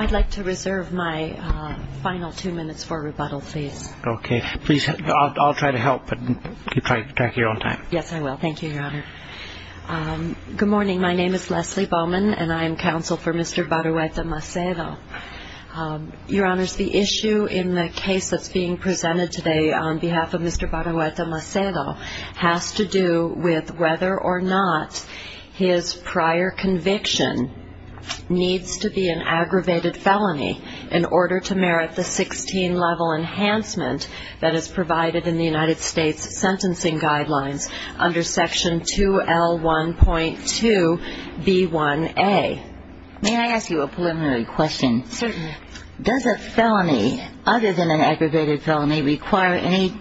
I'd like to reserve my final two minutes for rebuttal, please. Okay. Please, I'll try to help, but keep track of your own time. Yes, I will. Thank you, Your Honor. Good morning. My name is Leslie Bowman, and I am counsel for Mr. Barrueta-Macedo. Your Honors, the issue in the case that's being presented today on behalf of Mr. Barrueta-Macedo has to do with whether or not his prior conviction needs to be an aggravated felony in order to merit the 16-level enhancement that is provided in the United States Sentencing Guidelines under Section 2L1.2b1a. May I ask you a preliminary question? Certainly. Does a felony, other than an aggravated felony, require any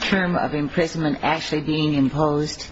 term of imprisonment actually being imposed?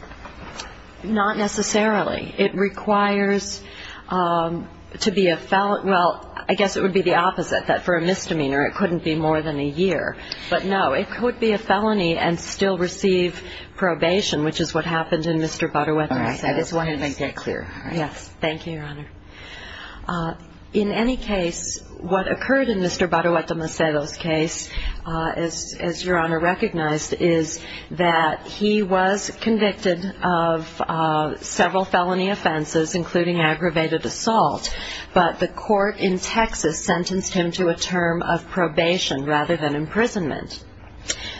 Not necessarily. It requires to be a felon – well, I guess it would be the opposite. For a misdemeanor, it couldn't be more than a year. But no, it could be a felony and still receive probation, which is what happened in Mr. Barrueta-Macedo's case. All right. I just wanted to make that clear. Yes. Thank you, Your Honor. In any case, what occurred in Mr. Barrueta-Macedo's case, as Your Honor recognized, is that he was convicted of several felony offenses, including aggravated assault, but the court in Texas sentenced him to a term of probation rather than imprisonment.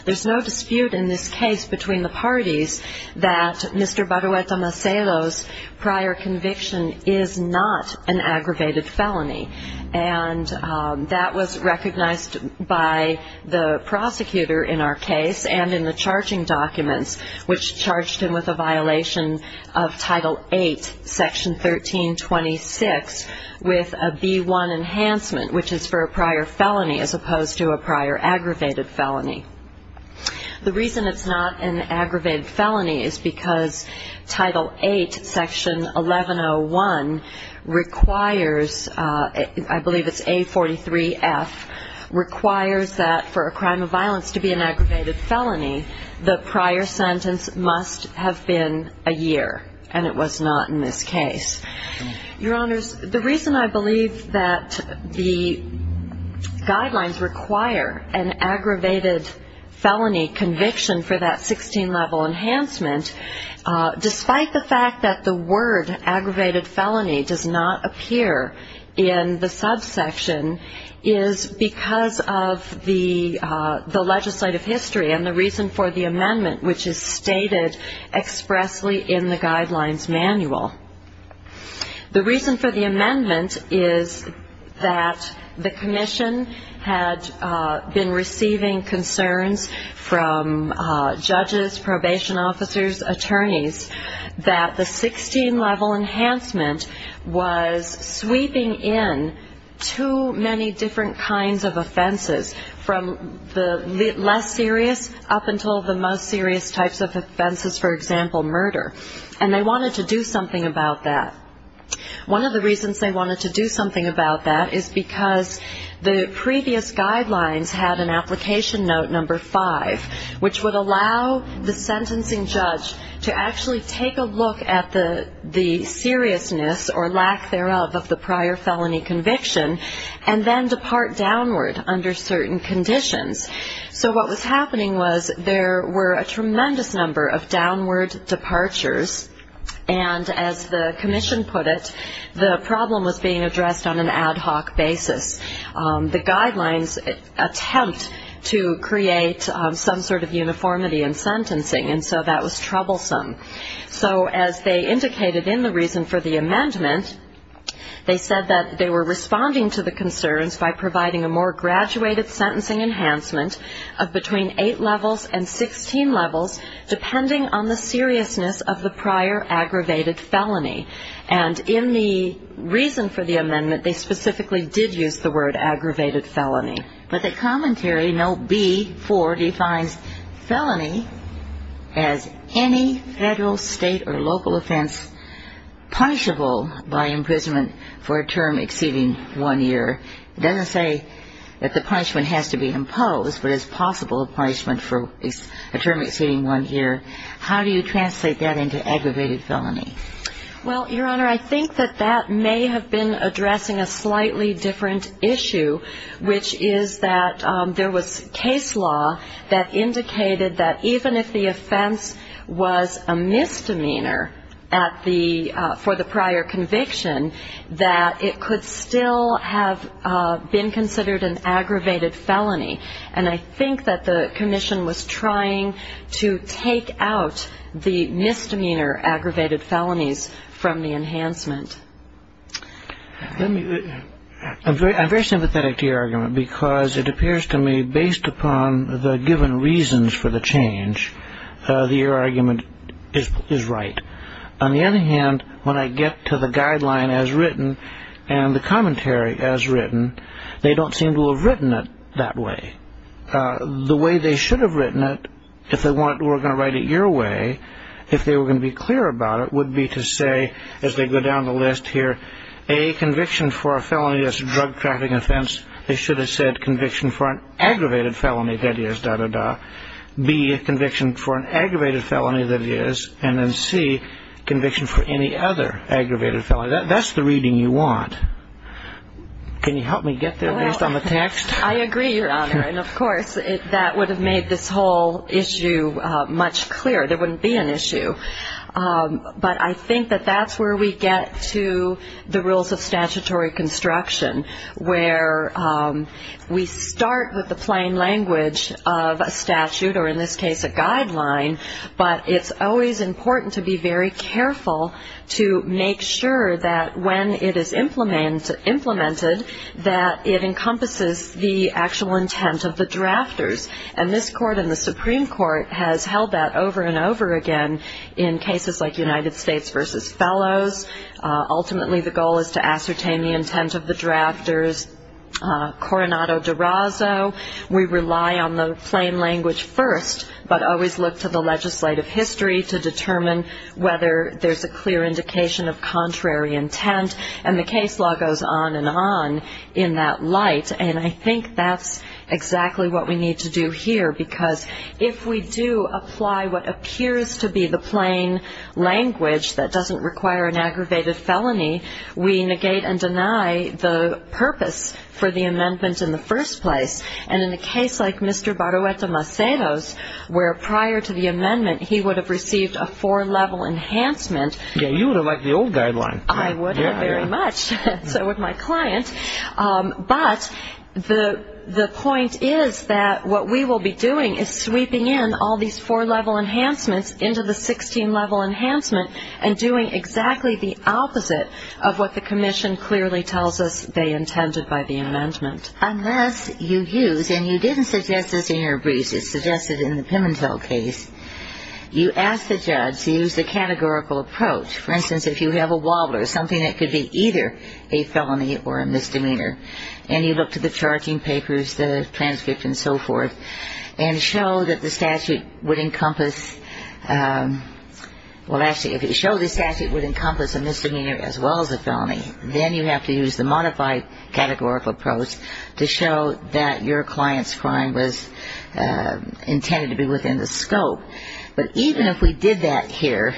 There's no dispute in this case between the parties that Mr. Barrueta-Macedo's prior conviction is not an aggravated felony, and that was recognized by the prosecutor in our case and in the charging documents, which charged him with a violation of Title VIII, Section 1326, with a B-1 enhancement, which is for a prior felony as opposed to a prior aggravated felony. The reason it's not an aggravated felony is because Title VIII, Section 1101 requires, I believe it's A43F, requires that for a crime of violence to be an aggravated felony, the prior sentence must have been a year, and it was not in this case. Your Honors, the reason I believe that the guidelines require an aggravated felony conviction for that 16-level enhancement, despite the fact that the word aggravated felony does not appear in the subsection, is because of the legislative history and the reason for the amendment, which is stated expressly in the guidelines manual. The reason for the amendment is that the commission had been receiving concerns from judges, probation officers, attorneys, that the 16-level enhancement was sweeping in too many different kinds of offenses, from the less serious up until the most serious types of offenses, for example, murder. And they wanted to do something about that. One of the reasons they wanted to do something about that is because the previous guidelines had an application note number five, which would allow the sentencing judge to actually take a look at the seriousness or lack thereof of the prior felony conviction, and then depart downward under certain conditions. So what was happening was there were a tremendous number of downward departures, and as the commission put it, the problem was being addressed on an ad hoc basis. The guidelines attempt to create some sort of uniformity in sentencing, and so that was troublesome. So as they indicated in the reason for the amendment, they said that they were responding to the concerns by providing a more graduated sentencing enhancement of between eight levels and 16 levels, depending on the seriousness of the prior aggravated felony. And in the reason for the amendment, they specifically did use the word aggravated felony. But the commentary note B-4 defines felony as any federal, state, or local offense punishable by imprisonment for a term exceeding one year. It doesn't say that the punishment has to be imposed, but it's possible punishment for a term exceeding one year. How do you translate that into aggravated felony? Well, Your Honor, I think that that may have been addressing a slightly different issue, which is that there was case law that indicated that even if the offense was a misdemeanor for the prior conviction, that it could still have been considered an aggravated felony. And I think that the commission was trying to take out the misdemeanor aggravated felonies from the enhancement. I'm very sympathetic to your argument, because it appears to me, based upon the given reasons for the change, the argument is right. On the other hand, when I get to the guideline as written, and the commentary as written, they don't seem to have written it that way. The way they should have written it, if they were going to write it your way, if they were going to be clear about it, would be to say, as they go down the list here, A, conviction for a felony that's a drug-trafficking offense. They should have said conviction for an aggravated felony, dah, dah, dah. B, conviction for an aggravated felony that is, and then C, conviction for any other aggravated felony. That's the reading you want. Can you help me get there, based on the text? I agree, Your Honor, and of course, that would have made this whole issue much clearer. There wouldn't be an issue. But I think that that's where we get to the rules of statutory construction, where we start with the plain language of a statute, or in this case, a guideline, but it's always important to be very careful to make sure that when it is implemented, that it encompasses the actual intent of the drafters. And this Court and the Supreme Court has held that over and over again in cases like United States v. Fellows. Ultimately, the goal is to ascertain the intent of the drafters. Coronado-Durazo, we rely on the plain language first, but always look to the legislative history to determine whether there's a clear indication of contrary intent. And the case law goes on and on in that light, and I think that's exactly what we need to do here, because if we do apply what appears to be the plain language that doesn't require an aggravated felony, we negate and deny the purpose for the amendment in the first place. And in a case like Mr. Barueta-Macedo's, where prior to the amendment, he would have received a four-level enhancement. Yeah, you would have liked the old guideline. I would have very much, so would my client. But the point is that what we will be doing is sweeping in all these four-level enhancements into the 16-level enhancement and doing exactly the opposite of what the Commission clearly tells us they intended by the amendment. Unless you use, and you didn't suggest this in your brief, you suggested in the Pimentel case, you asked the judge to use the categorical approach. For instance, if you have a wobbler, something that could be either a felony or a misdemeanor, and you look to the charging papers, the transcript and so forth, and show that the statute would encompass, well, actually, if it showed the statute would encompass a misdemeanor as well as a felony, then you have to use the modified categorical approach to show that your client's crime was intended to be within the scope. But even if we did that here,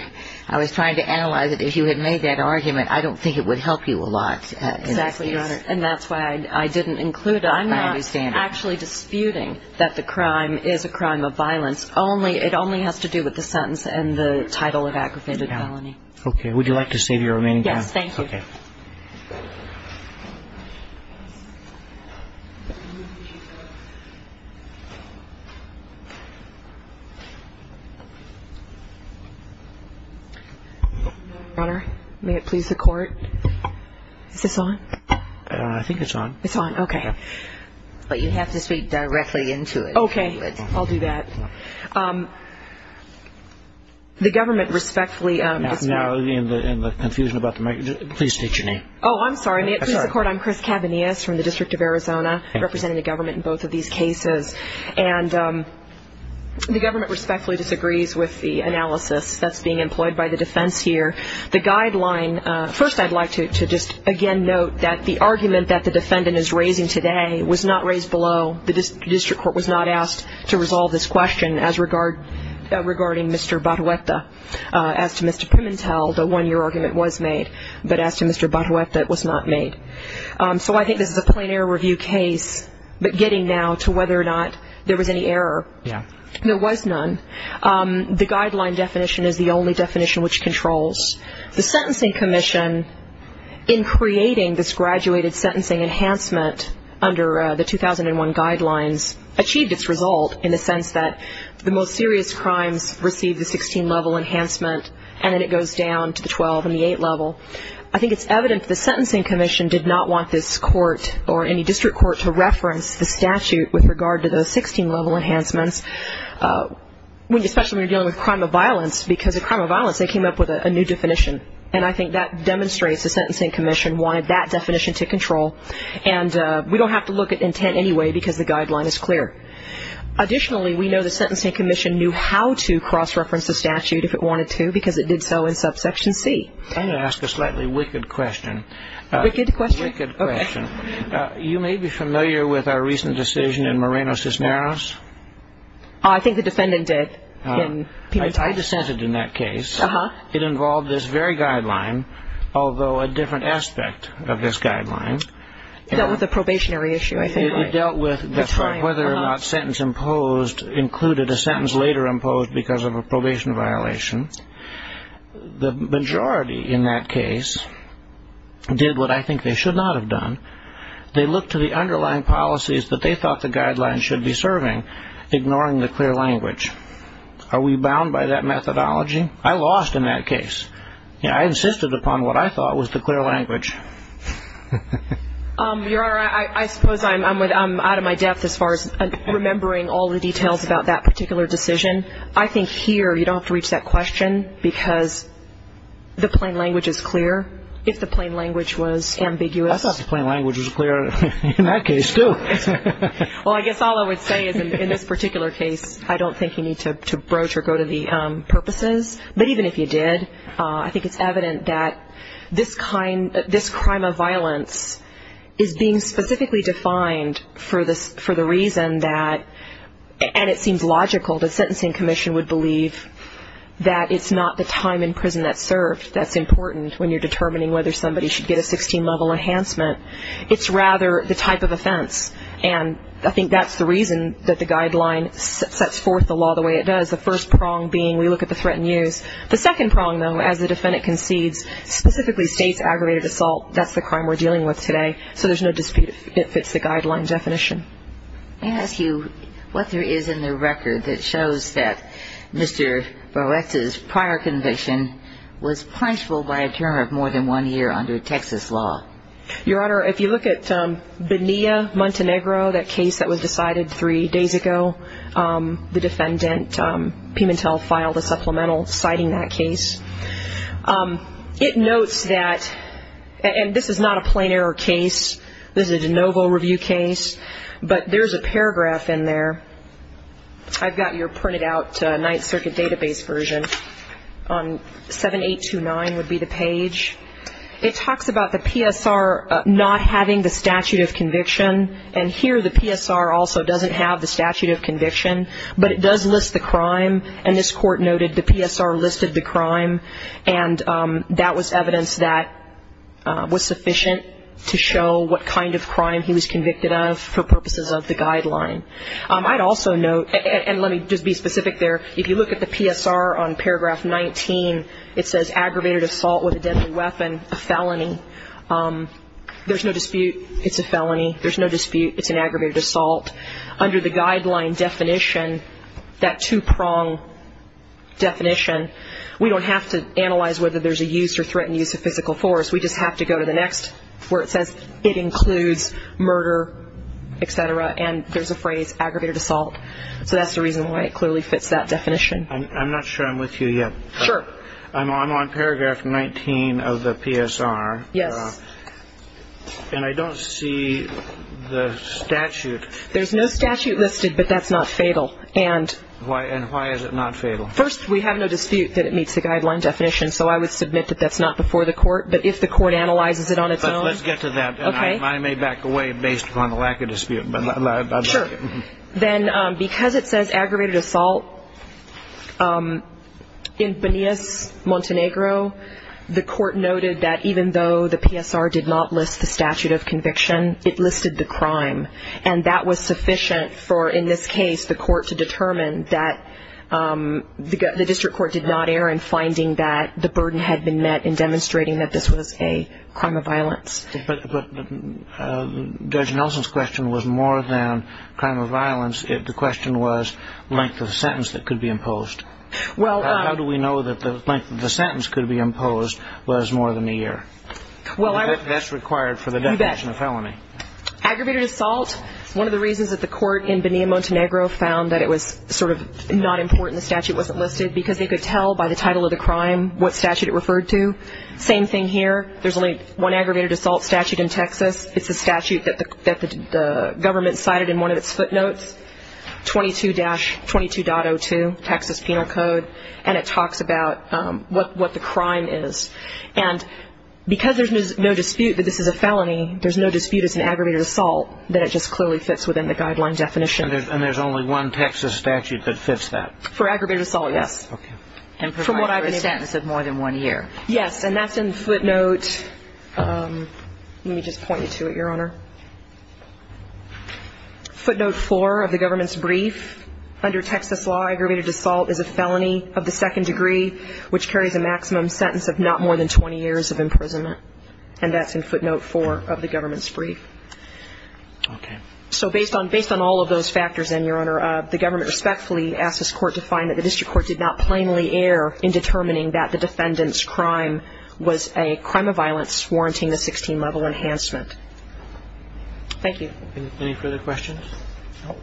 I was trying to analyze it. If you had made that argument, I don't think it would help you a lot. Exactly, Your Honor, and that's why I didn't include it. I'm not actually disputing that the crime is a crime of violence. It only has to do with the sentence and the title of aggravated felony. Okay, would you like to save your remaining time? Yes, thank you. Your Honor, may it please the Court? Is this on? I think it's on. It's on, okay. But you have to speak directly into it. Okay, I'll do that. The government respectfully disagrees. Now, in the confusion about the microphone, please state your name. Oh, I'm sorry. May it please the Court? I'm Chris Cavanias from the District of Arizona, representing the government in both of these cases. And the government respectfully disagrees with the analysis that's being employed by the defense here. The guideline, first I'd like to just again note that the argument that the defendant is raising today was not raised below. The district court was not asked to resolve this question as regarding Mr. Barueta. As to Mr. Pimentel, the one-year argument was made. But as to Mr. Barueta, it was not made. So I think this is a plain error review case, but getting now to whether or not there was any error. Yeah. There was none. The guideline definition is the only definition which controls. The Sentencing Commission, in creating this graduated sentencing enhancement under the 2001 guidelines, achieved its result in the sense that the most serious crimes receive the 16-level enhancement and then it goes down to the 12 and the 8 level. I think it's evident the Sentencing Commission did not want this court or any district court to reference the statute with regard to those 16-level enhancements, especially when you're dealing with crime of violence, because of crime of violence they came up with a new definition. And I think that demonstrates the Sentencing Commission wanted that definition to control. And we don't have to look at intent anyway because the guideline is clear. Additionally, we know the Sentencing Commission knew how to cross-reference the statute if it wanted to because it did so in subsection C. I'm going to ask a slightly wicked question. A wicked question? A wicked question. Okay. You may be familiar with our recent decision in Moreno-Cisneros? I think the defendant did in Pimentel. I dissented in that case. It involved this very guideline, although a different aspect of this guideline. It dealt with a probationary issue, I think, right? It dealt with whether or not sentence imposed included a sentence later imposed because of a probation violation. The majority in that case did what I think they should not have done. They looked to the underlying policies that they thought the guideline should be serving, ignoring the clear language. Are we bound by that methodology? I lost in that case. I insisted upon what I thought was the clear language. Your Honor, I suppose I'm out of my depth as far as remembering all the details about that particular decision. I think here you don't have to reach that question because the plain language is clear. If the plain language was ambiguous. I thought the plain language was clear in that case too. Well, I guess all I would say is in this particular case, I don't think you need to broach or go to the purposes, but even if you did, I think it's evident that this crime of violence is being specifically defined for the reason that, and it seems logical, the Sentencing Commission would believe that it's not the time in prison that's served that's important when you're determining whether somebody should get a 16-level enhancement. It's rather the type of offense. And I think that's the reason that the guideline sets forth the law the way it does, the first prong being we look at the threat in use. The second prong, though, as the defendant concedes, specifically states aggravated assault, that's the crime we're dealing with today. So there's no dispute if it fits the guideline definition. May I ask you what there is in the record that shows that Mr. Barretta's prior conviction was punishable by a term of more than one year under Texas law? Your Honor, if you look at Bonilla-Montenegro, that case that was decided three days ago, the defendant, Pimentel, filed a supplemental citing that case. It notes that, and this is not a plain error case, this is a de novo review case, but there's a paragraph in there. I've got your printed out Ninth Circuit database version on 7829 would be the page. It talks about the PSR not having the statute of conviction, and here the PSR also doesn't have the statute of conviction, but it does list the crime, and this court noted the PSR listed the crime, and that was evidence that was sufficient to show what kind of crime he was convicted of for purposes of the guideline. I'd also note, and let me just be specific there, if you look at the PSR on paragraph 19, it says aggravated assault with a deadly weapon, a felony. There's no dispute it's a felony. There's no dispute it's an aggravated assault. Under the guideline definition, that two-prong definition, we don't have to analyze whether there's a use or threatened use of physical force. We just have to go to the next where it says it includes murder, et cetera, and there's a phrase aggravated assault. So that's the reason why it clearly fits that definition. I'm not sure I'm with you yet. Sure. I'm on paragraph 19 of the PSR. Yes. And I don't see the statute. There's no statute listed, but that's not fatal. And why is it not fatal? First, we have no dispute that it meets the guideline definition, so I would submit that that's not before the court, but if the court analyzes it on its own. Let's get to that, and I may back away based upon the lack of dispute. Sure. Then because it says aggravated assault, in Bonillas-Montenegro, the court noted that even though the PSR did not list the statute of conviction, it listed the crime, and that was sufficient for, in this case, the court to determine that the district court did not err in finding that the burden had been met Judge Nelson's question was more than crime of violence. The question was length of sentence that could be imposed. How do we know that the length of the sentence could be imposed was more than a year? That's required for the definition of felony. Aggravated assault, one of the reasons that the court in Bonillas-Montenegro found that it was sort of not important the statute wasn't listed, because they could tell by the title of the crime what statute it referred to. Same thing here. There's only one aggravated assault statute in Texas. It's a statute that the government cited in one of its footnotes, 22-22.02, Texas Penal Code, and it talks about what the crime is. And because there's no dispute that this is a felony, there's no dispute it's an aggravated assault, that it just clearly fits within the guideline definition. And there's only one Texas statute that fits that? For aggravated assault, yes. And provided for a sentence of more than one year. Yes, and that's in footnote ‑‑ let me just point you to it, Your Honor. Footnote 4 of the government's brief, under Texas law, aggravated assault is a felony of the second degree, which carries a maximum sentence of not more than 20 years of imprisonment. And that's in footnote 4 of the government's brief. Okay. So based on all of those factors, then, Your Honor, the government respectfully asks this court to find that the district court did not plainly err in determining that the defendant's crime was a crime of violence warranting the 16-level enhancement. Thank you. Any further questions? No.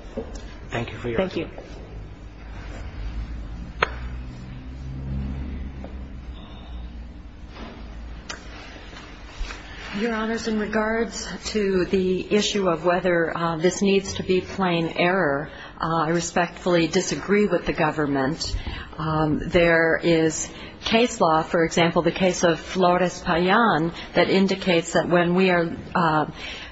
Thank you for your time. Thank you. Your Honors, in regards to the issue of whether this needs to be plain error, I respectfully disagree with the government. There is case law, for example, the case of Flores Payan, that indicates that when we are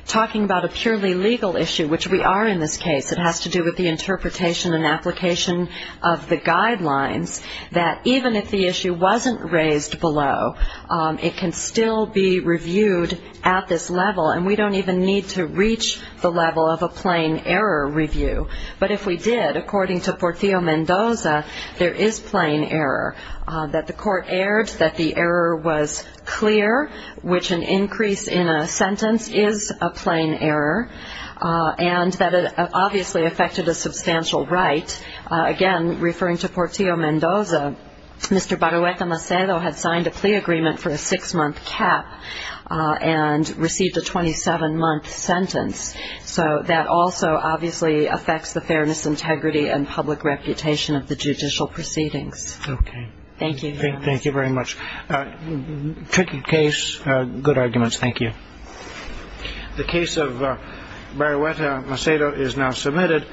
talking about a purely legal issue, which we are in this case, it has to do with the interpretation and application of the guidelines, that even if the issue wasn't raised below, it can still be reviewed at this level, and we don't even need to reach the level of a plain error review. But if we did, according to Portillo-Mendoza, there is plain error, that the court erred, that the error was clear, which an increase in a sentence is a plain error, and that it obviously affected a substantial right. Again, referring to Portillo-Mendoza, Mr. Barueca Macedo had signed a plea agreement for a six-month cap and received a 27-month sentence. So that also obviously affects the fairness, integrity, and public reputation of the judicial proceedings. Okay. Thank you. Thank you very much. Tricky case. Good arguments. Thank you. The case of Barueca Macedo is now submitted.